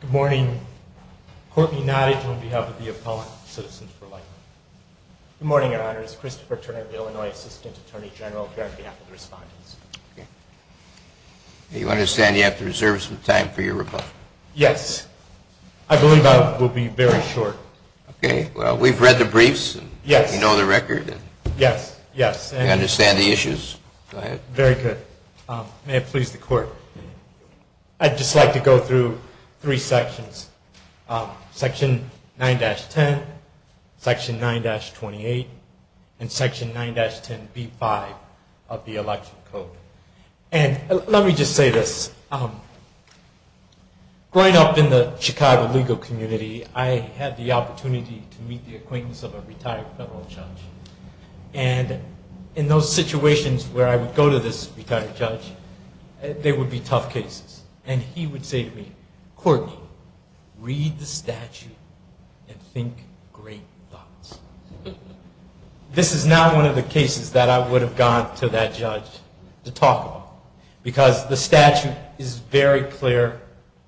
Good morning. Courtney Nottage on behalf of the appellant, Citizens for Lightford. Good morning, Your Honors. Christopher Turner, the Illinois Assistant Attorney General, here on behalf of the respondents. You understand you have to reserve some time for your rebuttal? Yes. I believe I will be very short. Okay. Well, we've read the briefs. Yes. You know the record. Yes, yes. And you understand the issues. Go ahead. Very good. May it please the Court. I'd just like to go through three sections. Section 9-10, Section 9-28, and of the election code. And let me just say this. Growing up in the Chicago legal community, I had the opportunity to meet the acquaintance of a retired federal judge. And in those situations where I would go to this retired judge, there would be tough cases. And he would say to me, Courtney, read the statute and think great thoughts. This is now one of the cases that I would have gone to that judge to talk about. Because the statute is very clear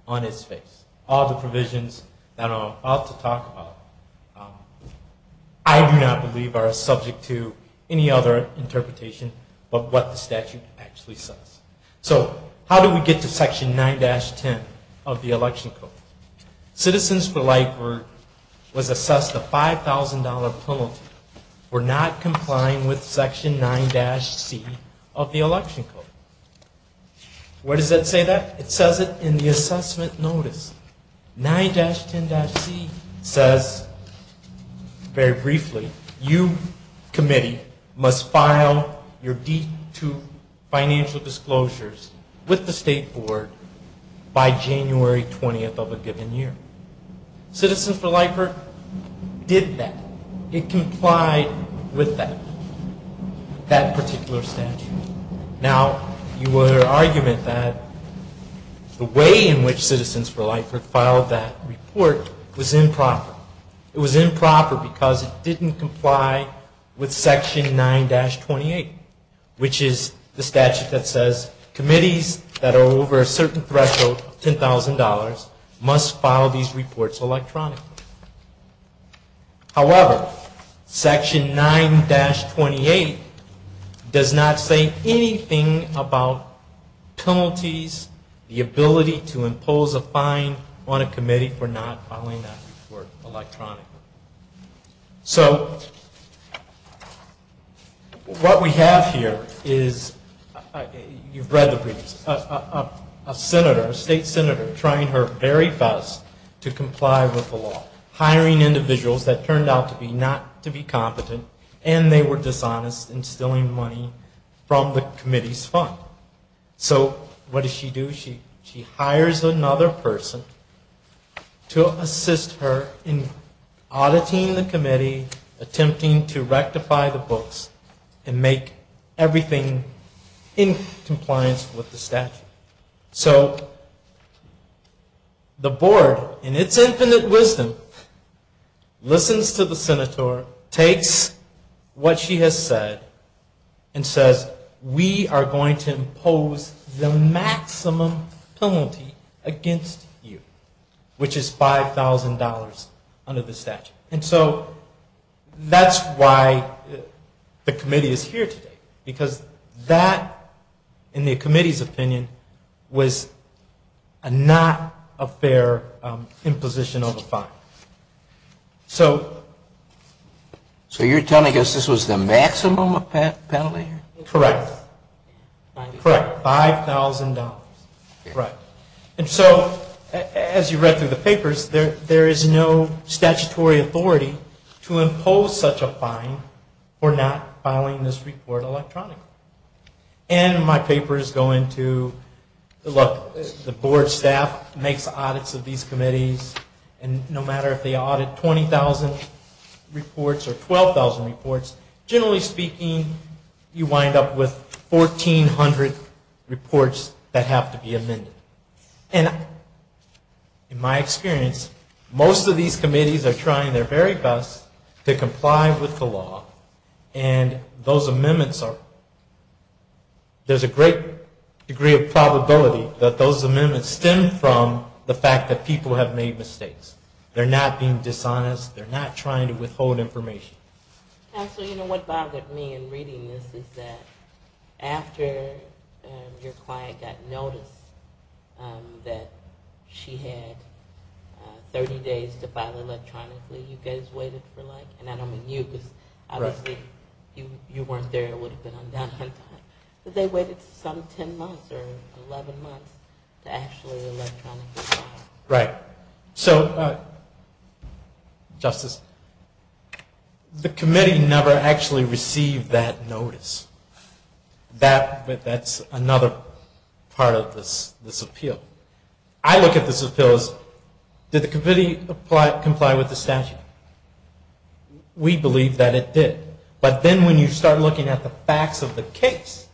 on its face. All the provisions that I'm about to talk about, I do not believe are subject to any other interpretation but what the statute actually says. So how do we get to Section 9-10 of the election code? Citizens for Lightford was assessed a $5,000 penalty for not complying with Section 9-C of the election code. Where does that say that? It says it in the assessment notice. 9-10-C says very briefly, you, committee, must file your D-2 financial disclosures with the State Board by January 20th of a given year. Citizens for Lightford did that. It was that particular statute. Now, your argument that the way in which Citizens for Lightford filed that report was improper. It was improper because it didn't comply with Section 9-28, which is the statute that says committees that are over a certain threshold of $10,000 must file these reports electronically. However, Section 9-28 does not say anything about penalties, the ability to impose a fine on a committee for not filing that report electronically. So what we have here is, you've read the briefs, a senator, a state senator trying her very best to comply with the law, hiring individuals that turned out to be not to be competent and they were dishonest in stealing money from the committee's fund. So what does she do? She hires another person to assist her in auditing the committee, attempting to rectify the books and make everything in compliance with the statute. So the board, in its infinite wisdom, listens to the senator, takes what she has said and says, we are going to impose the maximum penalty against you, which is $5,000 under the statute. And so that's why the committee is here today, because that, in the committee's opinion, was not a fair imposition of a fine. So you're telling us this was the maximum penalty? Correct. $5,000. So as you read through the papers, there is no statutory authority to impose such a fine for not filing this report electronically. And my papers go into, look, the board staff makes audits of these committees, and no matter if they audit 20,000 reports or 12,000 reports, generally speaking, you wind up with 1,400 reports that have to be amended. And in my experience, most of these committees are trying their very best to comply with the law, and those amendments are, there's a great degree of probability that those amendments stem from the fact that people have made mistakes. They're not being dishonest. They're not trying to withhold information. Counselor, you know, what bothered me in reading this is that after your client got notice that she had 30 days to file electronically, you guys waited for like, and I don't mean you, because obviously you weren't there, it would have been undone, but they waited some 10 months or 11 months to actually electronically file. Right. So, Justice, the committee never actually received that notice. That's another part of this appeal. I look at this appeal as, did the committee comply with the statute? We believe that it did. But then when you start looking at the facts of the case,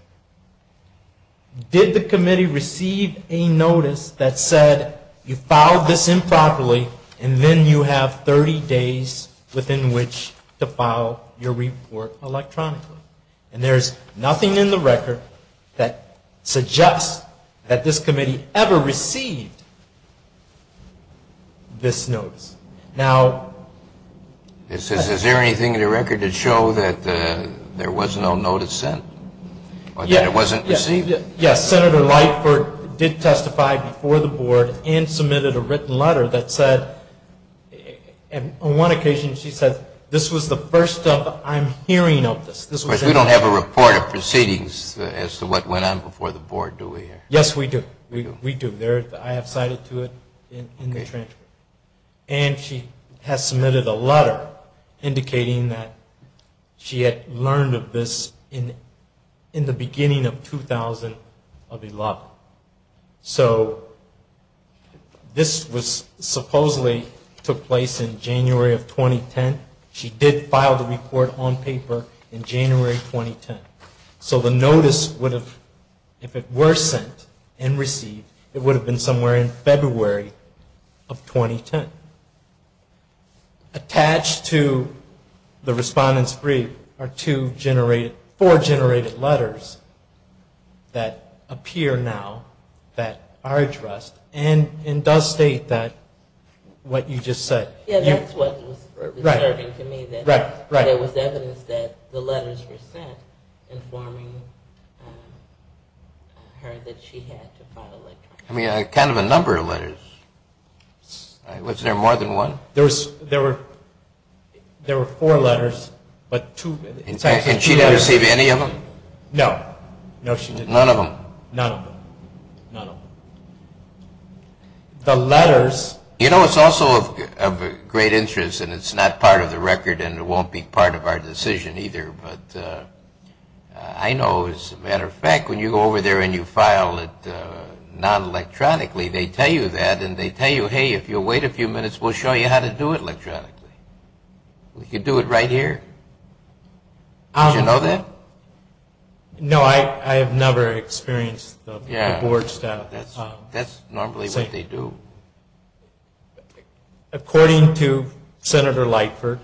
did the committee receive a notice that said, you filed this improperly, and then you have 30 days within which to file your report electronically? And there's nothing in the record that suggests that this committee ever received this notice. Now. Is there anything in the record that shows that there was no notice sent? Or that it wasn't received? Yes, Senator Lightford did testify before the board and submitted a written letter that said, and on one occasion she said, this was the first time I'm hearing of this. But we don't have a report of proceedings as to what went on before the board, do we? Yes, we do. We do. I have cited to it in the transcript. And she has submitted a letter indicating that she had learned of this in the beginning of 2011. So, this was supposedly took place in January of 2010. She did file the report on paper in January 2010. So, the notice, if it were sent and received, it would have been somewhere in February of 2010. Attached to the respondent's brief are four generated letters that appear now that are addressed and does state what you just said. Yeah, that's what was disturbing to me, that there was evidence that the letters were sent informing her that she had to file a letter. I mean, a count of a number of letters. Was there more than one? There were four letters, but two... And she never received any of them? No. None of them. None of them. None of them. The letters... You know, it's also of great interest, and it's not part of the record, and it won't be part of our decision either, but I know, as a matter of fact, when you go over there and you file it non-electronically, they tell you that, and they tell you, hey, if you'll wait a few minutes, we'll show you how to do it electronically. We could do it right here? Did you know that? No, I have never experienced the board staff... Yeah, that's normally what they do. According to Senator Lightford,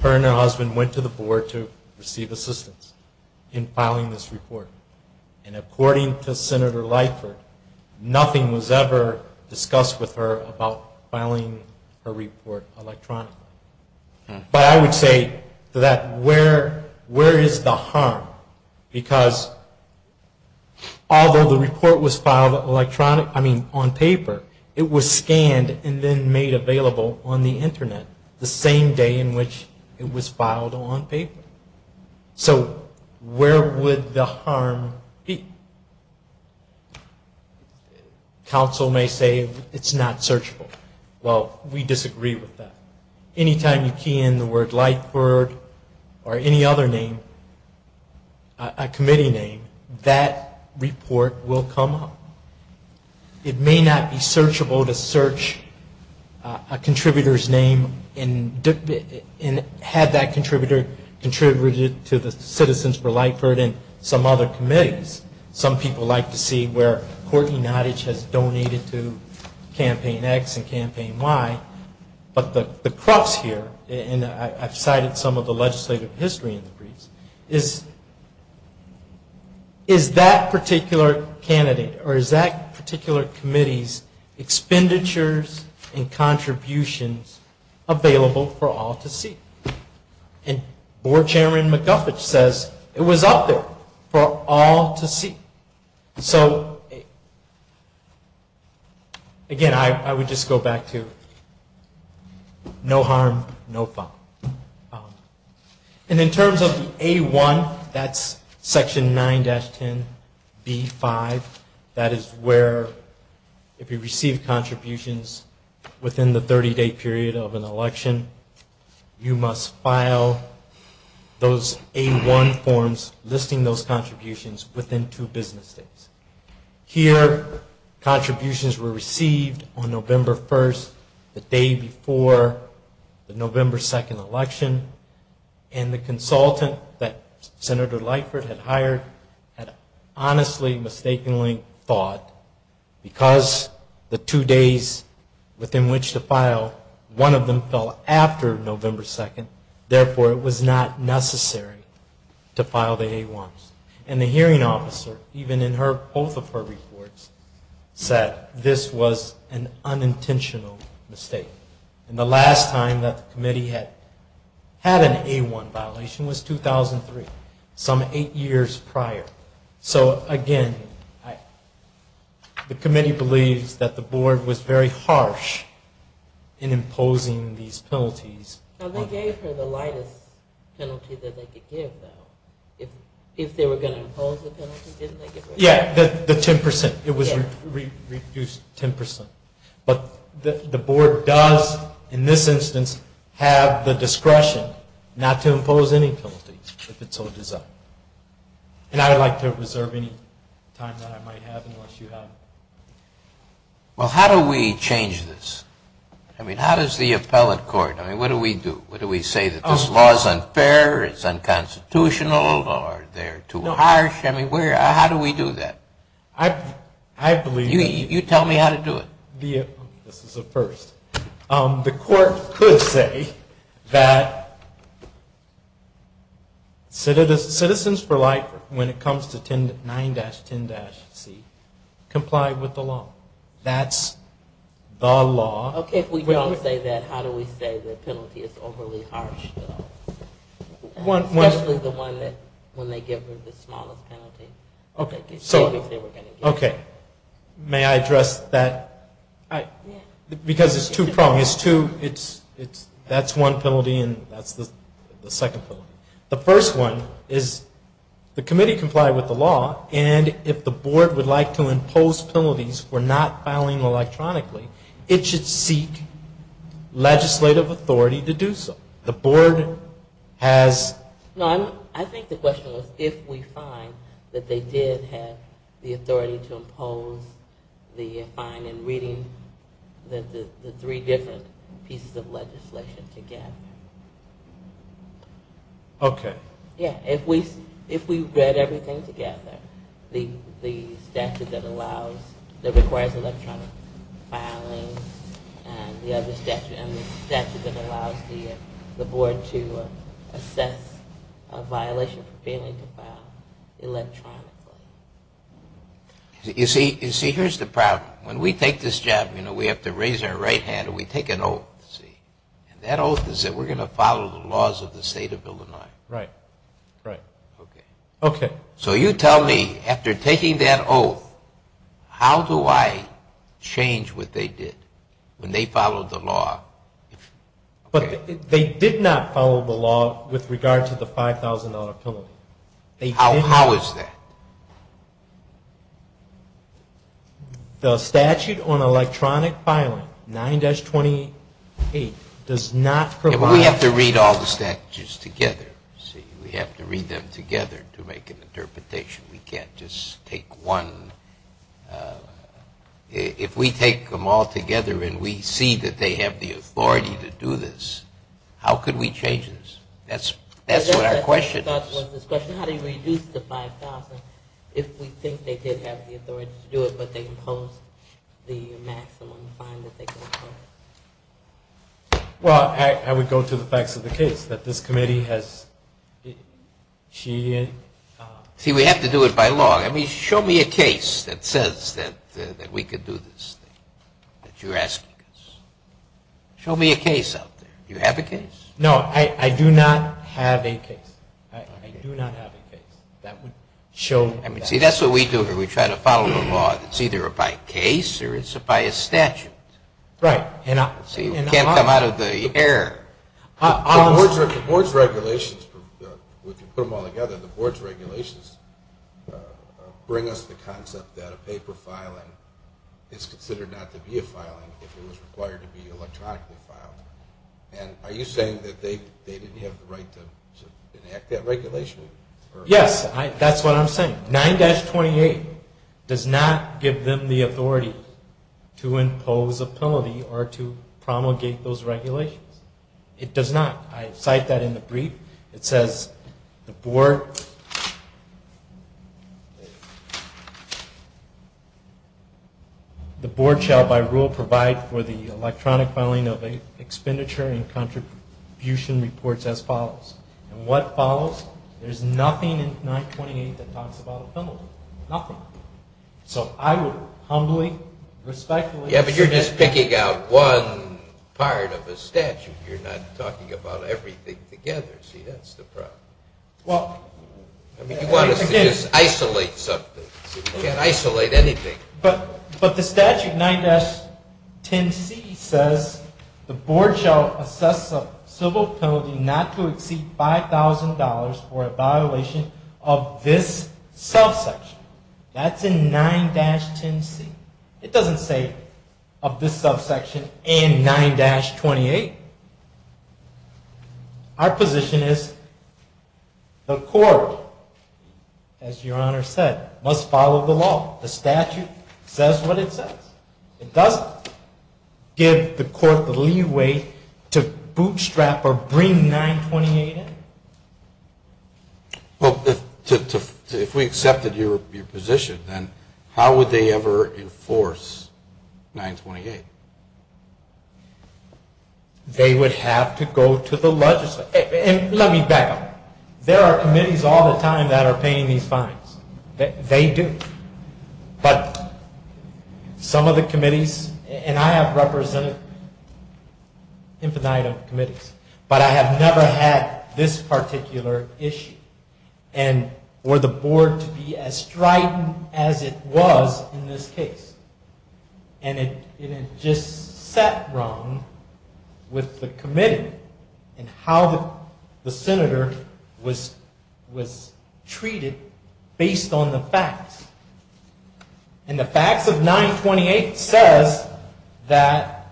her and her husband went to the board to receive assistance in filing this report, and according to Senator Lightford, nothing was ever discussed with her about filing her report electronically. But I would say that where is the harm? Because although the report was filed on paper, it was scanned and then made available on the Internet the same day in which it was filed on paper. So where would the harm be? Council may say it's not searchable. Well, we disagree with that. Anytime you key in the word Lightford or any other name, a committee name, that report will come up. It may not be searchable to search a contributor's name and have that contributor contribute it to the Citizens for Lightford and some other committees. Some people like to see where Courtney Nottage has donated to Campaign X and Campaign Y, but the crux here, and I've cited some of the legislative history in the briefs, is that particular candidate or is that particular committee's expenditures and contributions available for all to see? And Board Chairman McGuffet says it was up there for all to see. So again, I would just go back to no harm, no fault. And in terms of the A-1, that's Section 9-10B-5. That is where if you receive contributions within the 30-day period of an election, you must file those A-1 forms listing those contributions within two business days. Here, contributions were received on November 1st, the day before the November 2nd election, and the consultant that Senator Lightford had hired had honestly, mistakenly thought, because the two days within which to file, one of them fell out of the two business days. November 2nd. Therefore, it was not necessary to file the A-1s. And the hearing officer, even in both of her reports, said this was an unintentional mistake. And the last time that the committee had an A-1 violation was 2003, some eight years prior. So again, the committee believes that the Board was very harsh in imposing these penalties. Now, they gave her the lightest penalty that they could give, though. If they were going to impose the penalty, didn't they get rid of it? Yeah, the 10%. It was reduced 10%. But the Board does, in this instance, have the discretion not to impose any penalties, if it so desired. And I would like to reserve any time that I might have, unless you have. Well, how do we change this? I mean, how does the appellate court, I mean, what do we do? What do we say, that this law is unfair, it's unconstitutional, or they're too harsh? I mean, where, how do we do that? You tell me how to do it. This is a first. The court could say that Citizens for Life, when it comes to 9-10-C, comply with the law. That's the law. Okay. If we don't say that, how do we say the penalty is overly harsh, though? Especially the one that, when they give her the smallest penalty. Okay. May I address that? Because it's two prongs. That's one penalty, and that's the second penalty. The first one is the committee complied with the law, and if the Board would like to impose penalties for not filing electronically, it should see legislative authority to do so. The Board has... No, I think the question was if we find that they did have the authority to impose the fine in reading the three different pieces of legislation together. Okay. Yeah, if we read everything together, the statute that allows, that requires electronic filing, and the other statute, and the statute that allows the Board to assess a violation for failing to file electronically. You see, here's the problem. When we take this job, you know, we have to raise our right hand, and we take an oath, see, and that oath is that we're going to follow the laws of the State of Illinois. Right, right. Okay. Okay. So you tell me, after taking that oath, how do I change what they did when they followed the law? But they did not follow the law with regard to the $5,000 penalty. How is that? The statute on electronic filing, 9-28, does not provide... Yeah, but we have to read all the statutes together, see. We have to read them together to make an interpretation. We can't just take one. If we take them all together and we see that they have the authority to do this, how could we change this? That's what our question is. And there was this question, how do you reduce the $5,000 if we think they did have the authority to do it, but they imposed the maximum fine that they could impose? Well, I would go to the facts of the case, that this committee has... See, we have to do it by law. I mean, show me a case that says that we could do this thing that you're asking us. Show me a case out there. Do you have a case? No, I do not have a case. I do not have a case. That would show... See, that's what we do here. We try to follow the law. It's either by case or it's by a statute. Right. See, we can't come out of the air. The board's regulations, if you put them all together, the board's regulations bring us the concept that a paper filing is considered not to be a filing if it was required to be electronically filed. And are you saying that they didn't have the right to enact that regulation? Yes, that's what I'm saying. 9-28 does not give them the authority to impose a penalty or to promulgate those regulations. It does not. I cite that in the brief. It says the board shall by rule provide for the electronic filing of expenditure and contribution reports as follows. And what follows? There's nothing in 9-28 that talks about a penalty. Nothing. So I would humbly, respectfully... Yeah, but you're just picking out one part of a statute. You're not talking about everything together. See, that's the problem. Well... I mean, you want us to just isolate something. See, we can't isolate anything. But the statute 9-10C says the board shall assess a civil penalty not to exceed $5,000 for a violation of this subsection. That's in 9-10C. It doesn't say of this subsection and 9-28. Our position is the court, as Your Honor said, must follow the law. The statute says what it says. It doesn't give the court the leeway to bootstrap or bring 9-28 in. Well, if we accepted your position, then how would they ever enforce 9-28? They would have to go to the legislature. And let me back up. There are committees all the time that are paying these fines. They do. But some of the committees, and I have represented an infinite number of committees, but I have never had this particular issue. And for the board to be as strident as it was in this case. And it just sat wrong with the committee and how the senator was treated based on the facts. And the facts of 9-28 says that,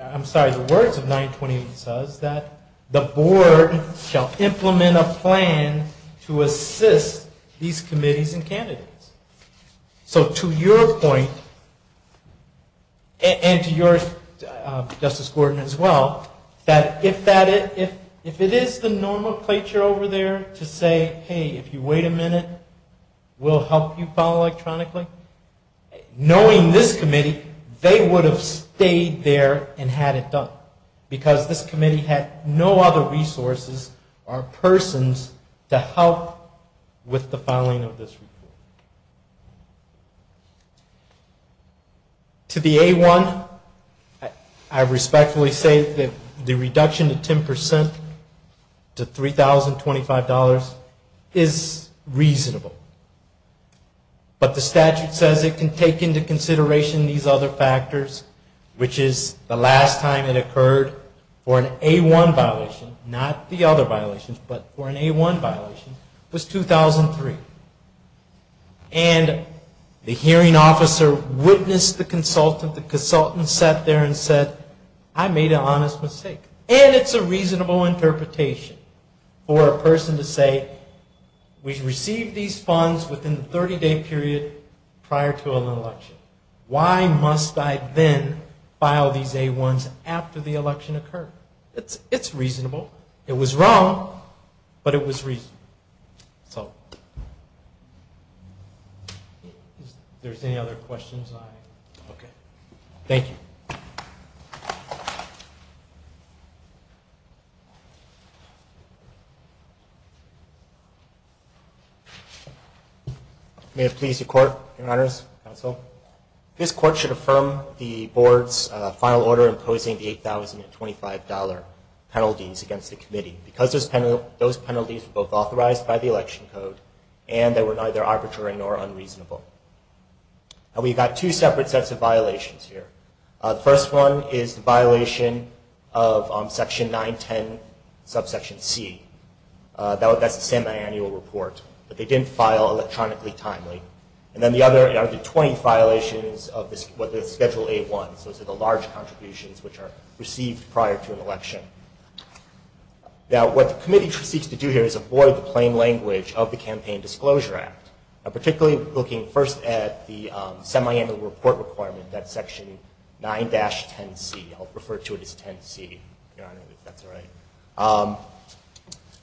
I'm sorry, the words of 9-28 says that the board shall implement a plan to assist these committees and candidates. So to your point, and to your, Justice Gordon, as well, that if it is the normal placer over there to say, hey, if you wait a minute, we'll help you file electronically, knowing this committee, they would have stayed there and had it done. Because this committee had no other resources or persons to help with the filing of this report. To the A-1, I respectfully say that the reduction of 10% to $3,025 is reasonable. But the statute says it can take into consideration these other factors, which is the last time it occurred for an A-1 violation, not the other violations, but for an A-1 violation, was 2003. And the hearing officer witnessed the consultant. The consultant sat there and said, I made an honest mistake. And it's a reasonable interpretation for a person to say, we received these funds within the 30-day period prior to an election. Why must I then file these A-1s after the election occurred? It's reasonable. So if there's any other questions, I... Okay. Thank you. May it please the Court, Your Honors, Counsel. This Court should affirm the Board's final order imposing the $8,025 penalties against the committee. Because those penalties were both authorized by the election code, and they were neither arbitrary nor unreasonable. And we've got two separate sets of violations here. The first one is the violation of Section 910, subsection C. That's the semi-annual report. But they didn't file electronically timely. And then the other are the 20 violations of the Schedule A-1s, those are the large contributions which are required. Now what the committee seeks to do here is avoid the plain language of the Campaign Disclosure Act. Particularly looking first at the semi-annual report requirement, that's Section 9-10C. I'll refer to it as 10C, Your Honor, if that's all right.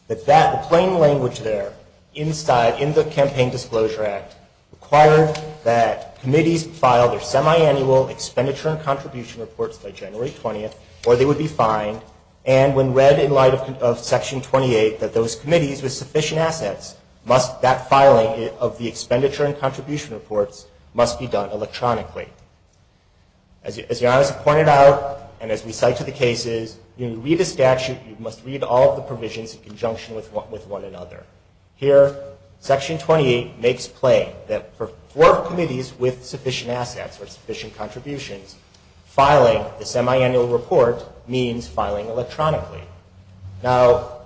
But that plain language there, inside, in the Campaign Disclosure Act, required that committees file their semi-annual expenditure and contribution reports by January 20th, or they would be fined. And when read in light of Section 28, that those committees with sufficient assets must, that filing of the expenditure and contribution reports must be done electronically. As Your Honor has pointed out, and as we cite to the cases, you read the statute, you must read all of the provisions in conjunction with one another. Here, Section 28 makes play that for four committees with sufficient assets, each committee must read the statute in conjunction with one another. And that, Your Honor, means filing electronically. Now,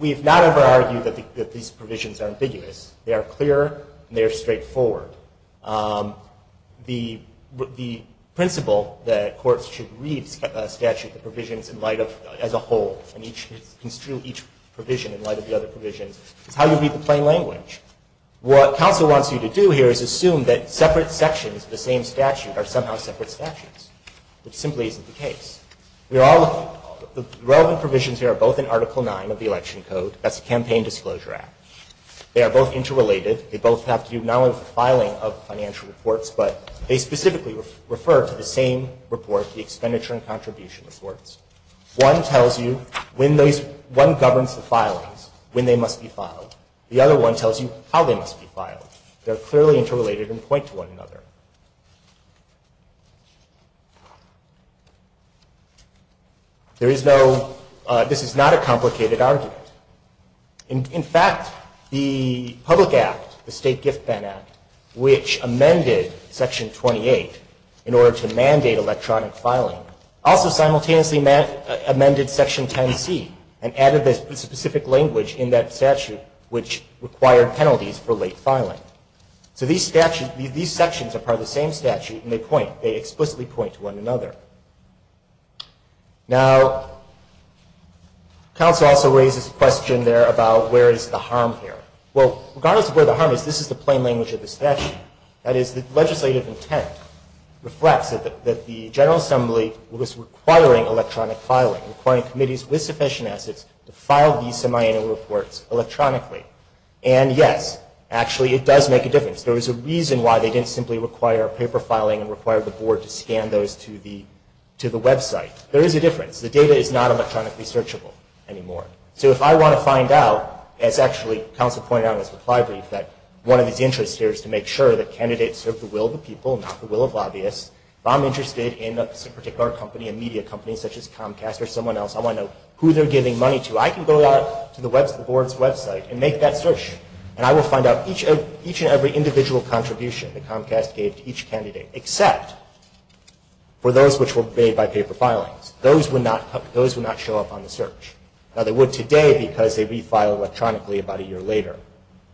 we've not ever argued that these provisions are ambiguous. They are clear, and they are straightforward. The principle that courts should read a statute with provisions in light of, as a whole, and each, construe each provision in light of the other provisions, is how you read the plain language. What counsel wants you to do here is assume that separate sections of the same statute are somehow separate statutes. That simply isn't the case. We are all, the relevant provisions here are both in Article 9 of the Election Code. That's the Campaign Disclosure Act. They are both interrelated. They both have to do not only with the filing of financial reports, but they specifically refer to the same report, the expenditure and contribution reports. One tells you when those, one governs the filings, when they must be filed. The other one tells you how they must be filed. They are clearly interrelated and point to one another. There is no, this is not a complicated argument. In fact, the Public Act, the State Gift Ban Act, which amended Section 28 in order to mandate electronic filing, also simultaneously amended Section 10C and added this specific language in that statute, which required penalties for late filing. So these statutes, these sections are part of the same statute, and they point, they explicitly point to one another. Now, counsel also raises a question there about where is the harm here. Well, regardless of where the harm is, this is the plain language of the statute. That is, the legislative intent reflects that the General Assembly was requiring electronic filing, requiring committees with sufficient assets to file these semiannual reports electronically. And yes, actually it does make a difference to the website. There is a difference. The data is not electronically searchable anymore. So if I want to find out, as actually counsel pointed out in his reply brief, that one of his interests here is to make sure that candidates serve the will of the people, not the will of lobbyists. If I'm interested in a particular company, a media company such as Comcast or someone else, I want to know who they're giving money to. I can go out to the Board's website and make that search, and I will find out each and every individual contribution that Comcast gave to each candidate, except for those which were made by paper filings. Those would not show up on the search. Now, they would today because they'd be filed electronically about a year later.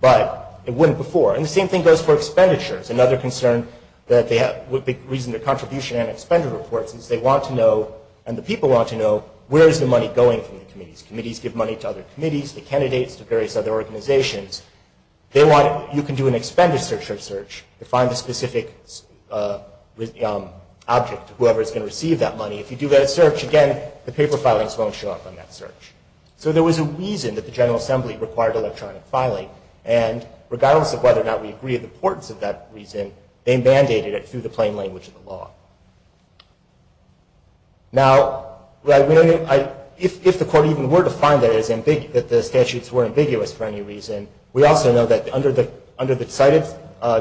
But it wouldn't before. And the same thing goes for expenditures. Another concern that they have with the reason their contribution and expenditure reports is they want to know, and the people want to know, where is the money going from the committees. Committees give money to other committees, the candidates, to various other organizations. They want, you can do an election object to whoever is going to receive that money. If you do that search, again, the paper filings won't show up on that search. So there was a reason that the General Assembly required electronic filing. And regardless of whether or not we agree with the importance of that reason, they mandated it through the plain language of the law. Now, if the Court even were to find that the statutes were ambiguous for any reason, we also know that under the cited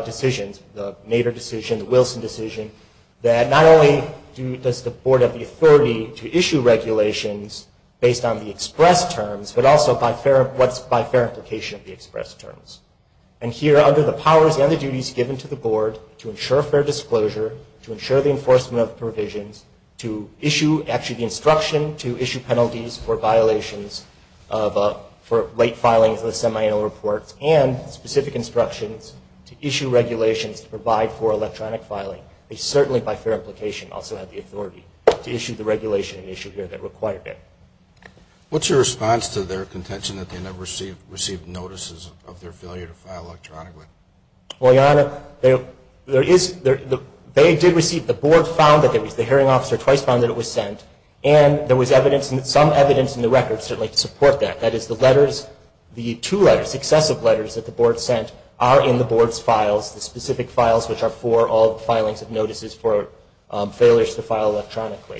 decisions, the Nader decision, the Wilson decision, that not only does the Board have the authority to issue regulations based on the express terms, but also by fair, what's by fair implication of the express terms. And here, under the powers and the duties given to the Board to ensure fair disclosure, to ensure the enforcement of provisions, to issue actually the final reports and specific instructions, to issue regulations to provide for electronic filing, they certainly by fair implication also have the authority to issue the regulation and issue here that required it. What's your response to their contention that they never received notices of their failure to file electronically? Well, Your Honor, there is, they did receive, the Board found that, the hearing officer twice found that it was sent, and there was evidence, some evidence in the record certainly to support that. That is the letters, the two letters, successive letters that the Board sent are in the Board's files, the specific files which are for all filings of notices for failures to file electronically.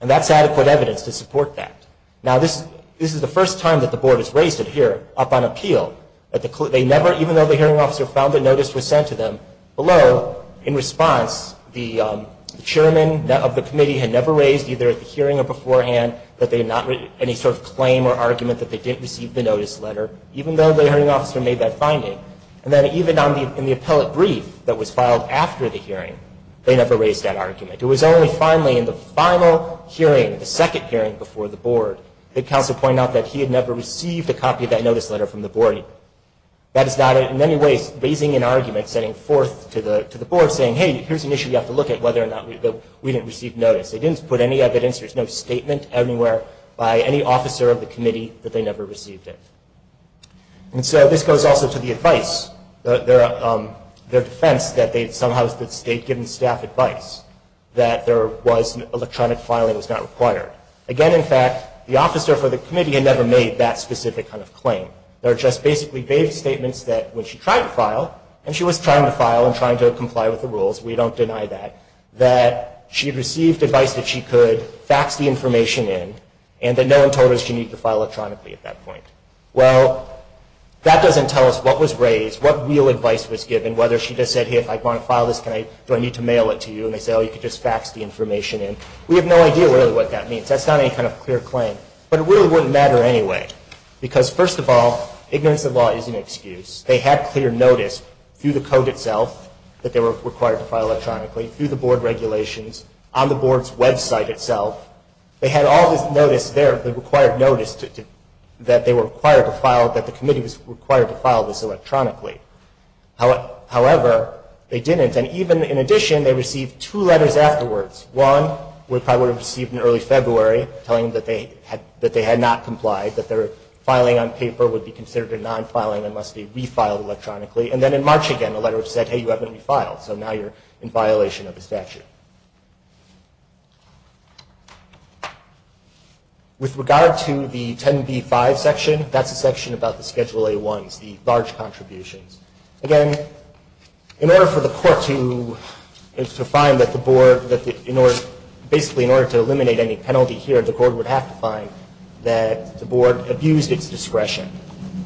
And that's adequate evidence to support that. Now, this is the first time that the Board has raised it here, up on appeal, that they never, even though the hearing officer found that notice was sent to them, below, in response, the chairman of the committee had never raised either at the hearing or beforehand, that the Board had not, any sort of claim or argument that they didn't receive the notice letter, even though the hearing officer made that finding. And then even in the appellate brief that was filed after the hearing, they never raised that argument. It was only finally in the final hearing, the second hearing before the Board, that counsel pointed out that he had never received a copy of that notice letter from the Board. That is not, in many ways, raising an argument, setting forth to the Board, saying, hey, here's an issue you have to look at, whether or not we didn't receive notice. They didn't put any evidence, there's no statement anywhere, by any officer of the committee, that they never received it. And so, this goes also to the advice, their defense that they'd somehow, state-given staff advice, that there was electronic filing was not required. Again, in fact, the officer for the committee had never made that specific kind of claim. They were just basically vague statements that, when she tried to file, and she was trying to file and trying to comply with the rules, we don't deny that, that she'd received advice that she could fax the information in, and that no one told her she needed to file electronically at that point. Well, that doesn't tell us what was raised, what real advice was given, whether she just said, hey, if I want to file this, do I need to mail it to you? And they say, oh, you can just fax the information in. We have no idea, really, what that means. That's not any kind of clear claim. But it really wouldn't matter anyway. Because, first of all, ignorance of law is an excuse. They had clear notice, through the code itself, that they were required to file electronically, through the board regulations, on the board's website itself. They had all this notice there, the required notice, that they were required to file, that the committee was required to file this electronically. However, they didn't. And even in addition, they received two letters afterwards. One, which I would have received in early February, telling them that they had not complied, that there had been no filing on paper, would be considered a non-filing, and must be refiled electronically. And then in March, again, a letter said, hey, you haven't refiled. So now you're in violation of the statute. With regard to the 10b-5 section, that's a section about the Schedule A-1s, the large contributions. Again, in order for the court to find that the board, basically in order to eliminate any penalty here, the court would have to find that the board abused its discretion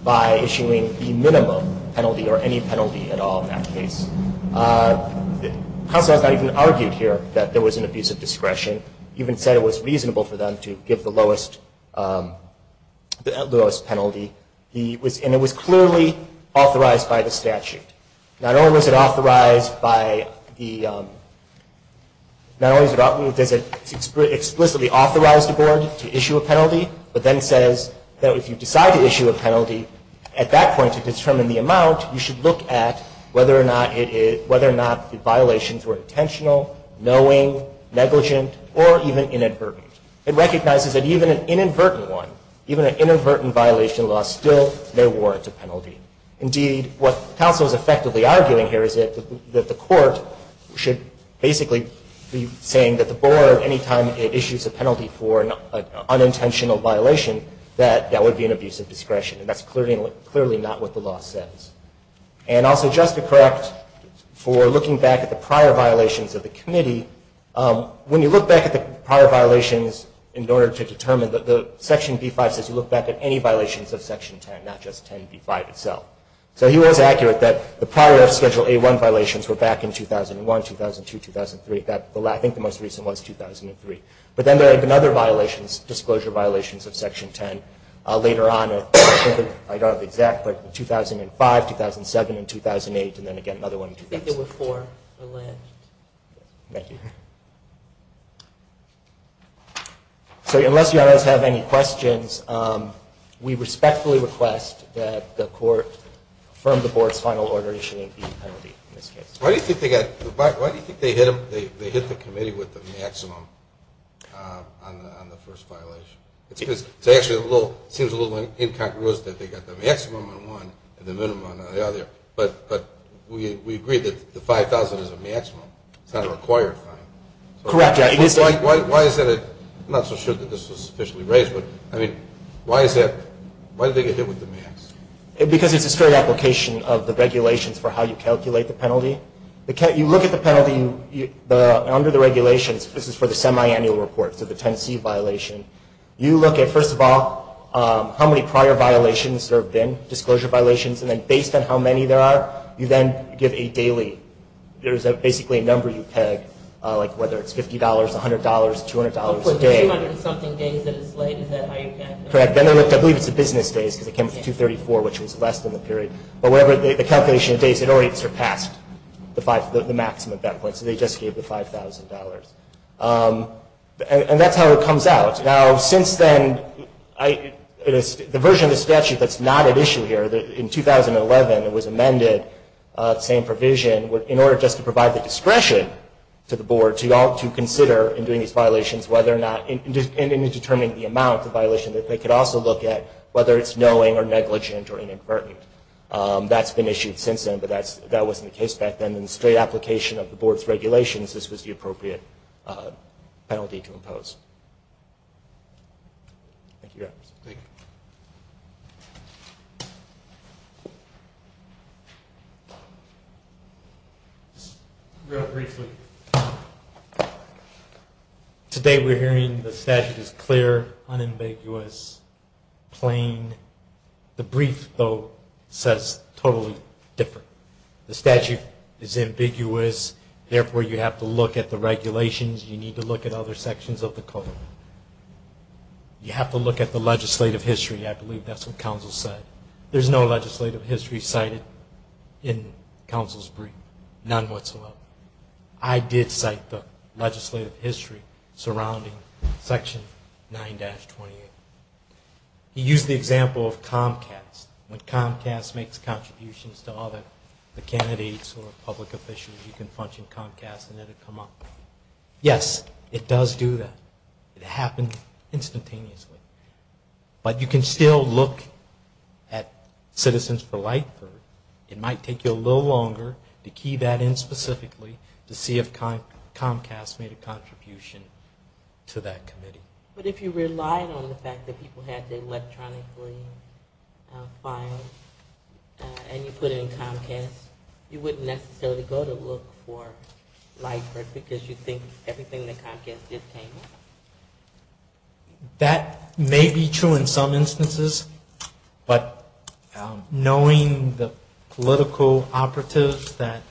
by issuing the minimum penalty, or any penalty at all in that case. Counsel has not even argued here that there was an abuse of discretion, even said it was reasonable for them to give the lowest penalty. And it was clearly authorized by the statute. Not only was it explicitly authorized the board to issue a penalty, but then says that if you decide to issue a penalty, at that point to determine the amount, you should look at whether or not the violations were intentional, knowing, negligent, or even inadvertent. It recognizes that even an inadvertent one, even an inadvertent violation of the law still may warrant a penalty. Indeed, what counsel is effectively arguing here is that the board, basically saying that the board, any time it issues a penalty for an unintentional violation, that that would be an abuse of discretion. And that's clearly not what the law says. And also, just to correct, for looking back at the prior violations of the committee, when you look back at the prior violations in order to determine, Section B-5 says you look back at any violations of Section 10, not just 10b-5 itself. So he was accurate that the prior Schedule A-1 violations were back in 2001, 2002, 2003. I think the most recent was 2003. But then there have been other violations, disclosure violations of Section 10, later on, I don't know the exact, but in 2005, 2007, and 2008, and then again another one in 2002. So unless you guys have any questions, we respectfully request that the court affirm the board's final order issuing the penalty in this case. Why do you think they hit the committee with the maximum on the first violation? It seems a little incongruous that they got the maximum on one and the other. Correct. Why is that? I'm not so sure that this was officially raised, but I mean, why is that? Why did they get hit with the max? Because it's a strict application of the regulations for how you calculate the penalty. You look at the penalty under the regulations, this is for the semiannual report, so the 10c violation. You look at, first of all, how many prior violations there have been, disclosure violations, and then based on how many there are, you then give a daily, there's basically a number you peg, like whether it's $50, $100, $200 a day. Hopefully the 200-something days that it's laid, is that how you calculate it? Correct. I believe it's the business days, because it came up to 234, which was less than the period. But the calculation of days, it already surpassed the maximum at that point, so they just gave the $5,000. And that's how it comes out. Now, since then, the version of the statute that's not at issue here, in 2011, it was amended, same provision, in order just to provide the discretion to the board to consider in doing these violations whether or not, in determining the amount of violation that they could also look at, whether it's knowing or negligent or inadvertent. That's been issued since then, but that wasn't the case back then. In straight application of the board's regulations, this was the case. Real briefly, today we're hearing the statute is clear, unambiguous, plain. The brief, though, says totally different. The statute is ambiguous, therefore you have to look at the regulations, you need to look at other sections of the code. You have to look at the legislative history. There's no legislative history cited in counsel's brief, none whatsoever. I did cite the legislative history surrounding Section 9-28. He used the example of Comcast. When Comcast makes contributions to other, the candidates or public officials, you can function Comcast and let it come up. Yes, it does do that. It happens instantaneously. But you can still look at citizens for Lightford. It might take you a little longer to key that in specifically to see if Comcast made a contribution to that committee. But if you relied on the fact that people had to electronically file and you put it in Comcast, you wouldn't necessarily go to look for Lightford because you think everything that Comcast did came up? That may be true in some instances, but knowing the political operatives that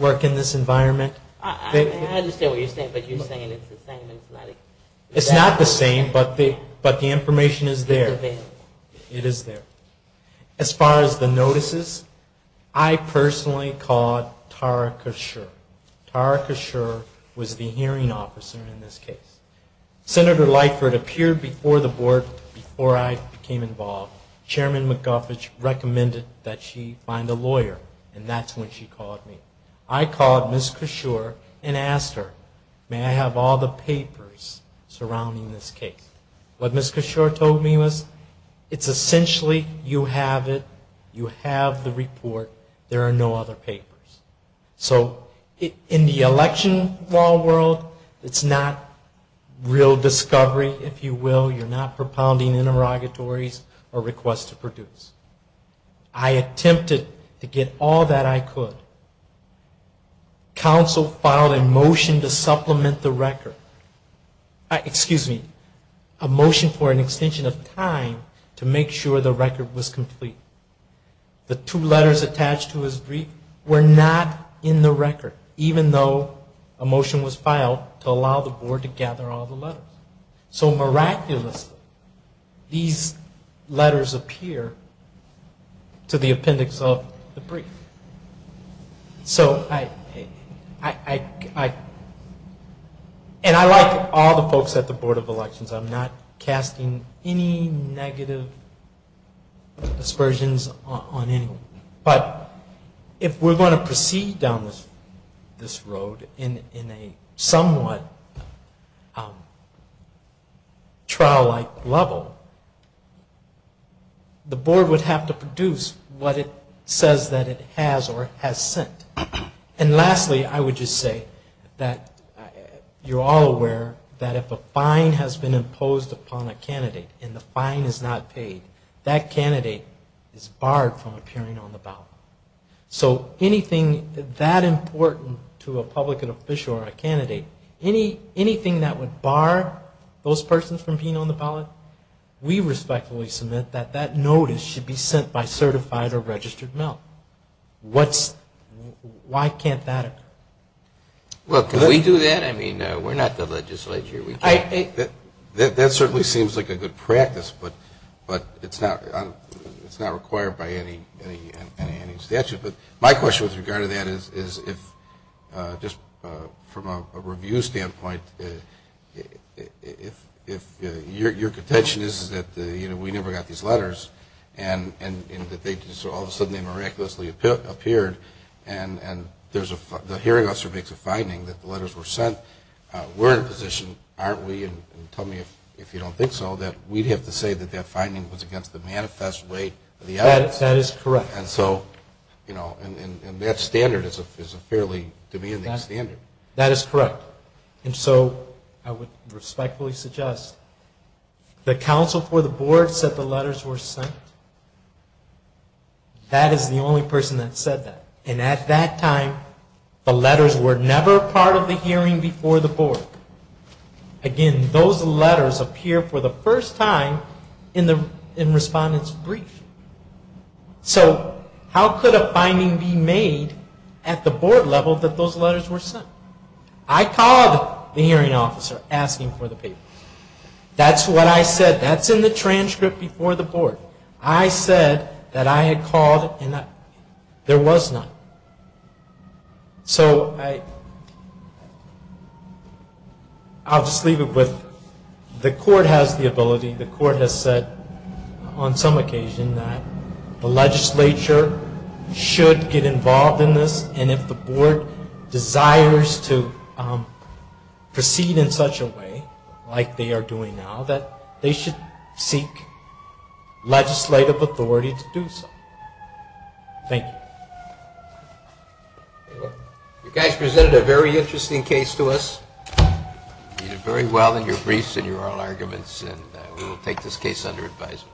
work in this environment, it's not the same, but the information is there. It is there. As far as the notices, I personally called Tara Kershaw. Tara Kershaw was the hearing officer in this case. Senator Lightford appeared before the board before I became involved. Chairman McGuffet recommended that she find a lawyer, and that's when she called me. I called Ms. Kershaw and asked her, may I have all the papers surrounding this case? What Ms. Kershaw told me was, it's essentially, you have it, you have the report, there are no other papers. So in the election law world, it's not real discovery, if you will. You're not propounding interrogatories or requests to produce. I attempted to get all that I could. Council filed a motion to supplement the record. Excuse me, a motion for an extension of time to make sure the record was complete. The two letters attached to his brief were not in the record, even though a motion was filed to allow it to be submitted. So miraculously, these letters appear to the appendix of the brief. And I like all the folks at the board of elections. I'm not casting any negative aspersions on anyone. But if we're going to proceed down this road in a somewhat trial-like level, the board would have to produce what it says that it has or has sent. And lastly, I would just say that you're all aware that if a fine has been imposed upon a candidate and the fine is not paid, that candidate is barred from appearing on the ballot. So anything that important to a public and official or a candidate, any candidate is barred from appearing on the ballot. Anything that would bar those persons from being on the ballot, we respectfully submit that that notice should be sent by certified or registered mail. Why can't that occur? Well, can we do that? I mean, we're not the legislature. That certainly seems like a good practice, but it's not required by any statute. But my question with regard to that is if, just from a review standpoint, if your contention is that we never got these letters and that all of a sudden they miraculously appeared and the hearing officer makes a finding that the letters were sent, we're in a position, aren't we, and tell me if you don't think so, that we'd have to say that that finding was against the manifest weight of the evidence. That is correct. And so I would respectfully suggest the counsel for the board said the letters were sent. That is the only person that said that. And at that time, the letters were never part of the hearing before the board. Again, those letters appear for the first time in the respondent's brief. So how could a finding be made at the board level that those letters were sent? I called the hearing officer asking for the paper. That's what I said. That's in the transcript before the board. I said that I had called, and there was none. So I'll just leave it with the court has the ability, the court has said on some occasion that the legislature should get involved in this, and if the board desires to do so, the legislature should get involved in this. If the board desires to proceed in such a way, like they are doing now, that they should seek legislative authority to do so. Thank you.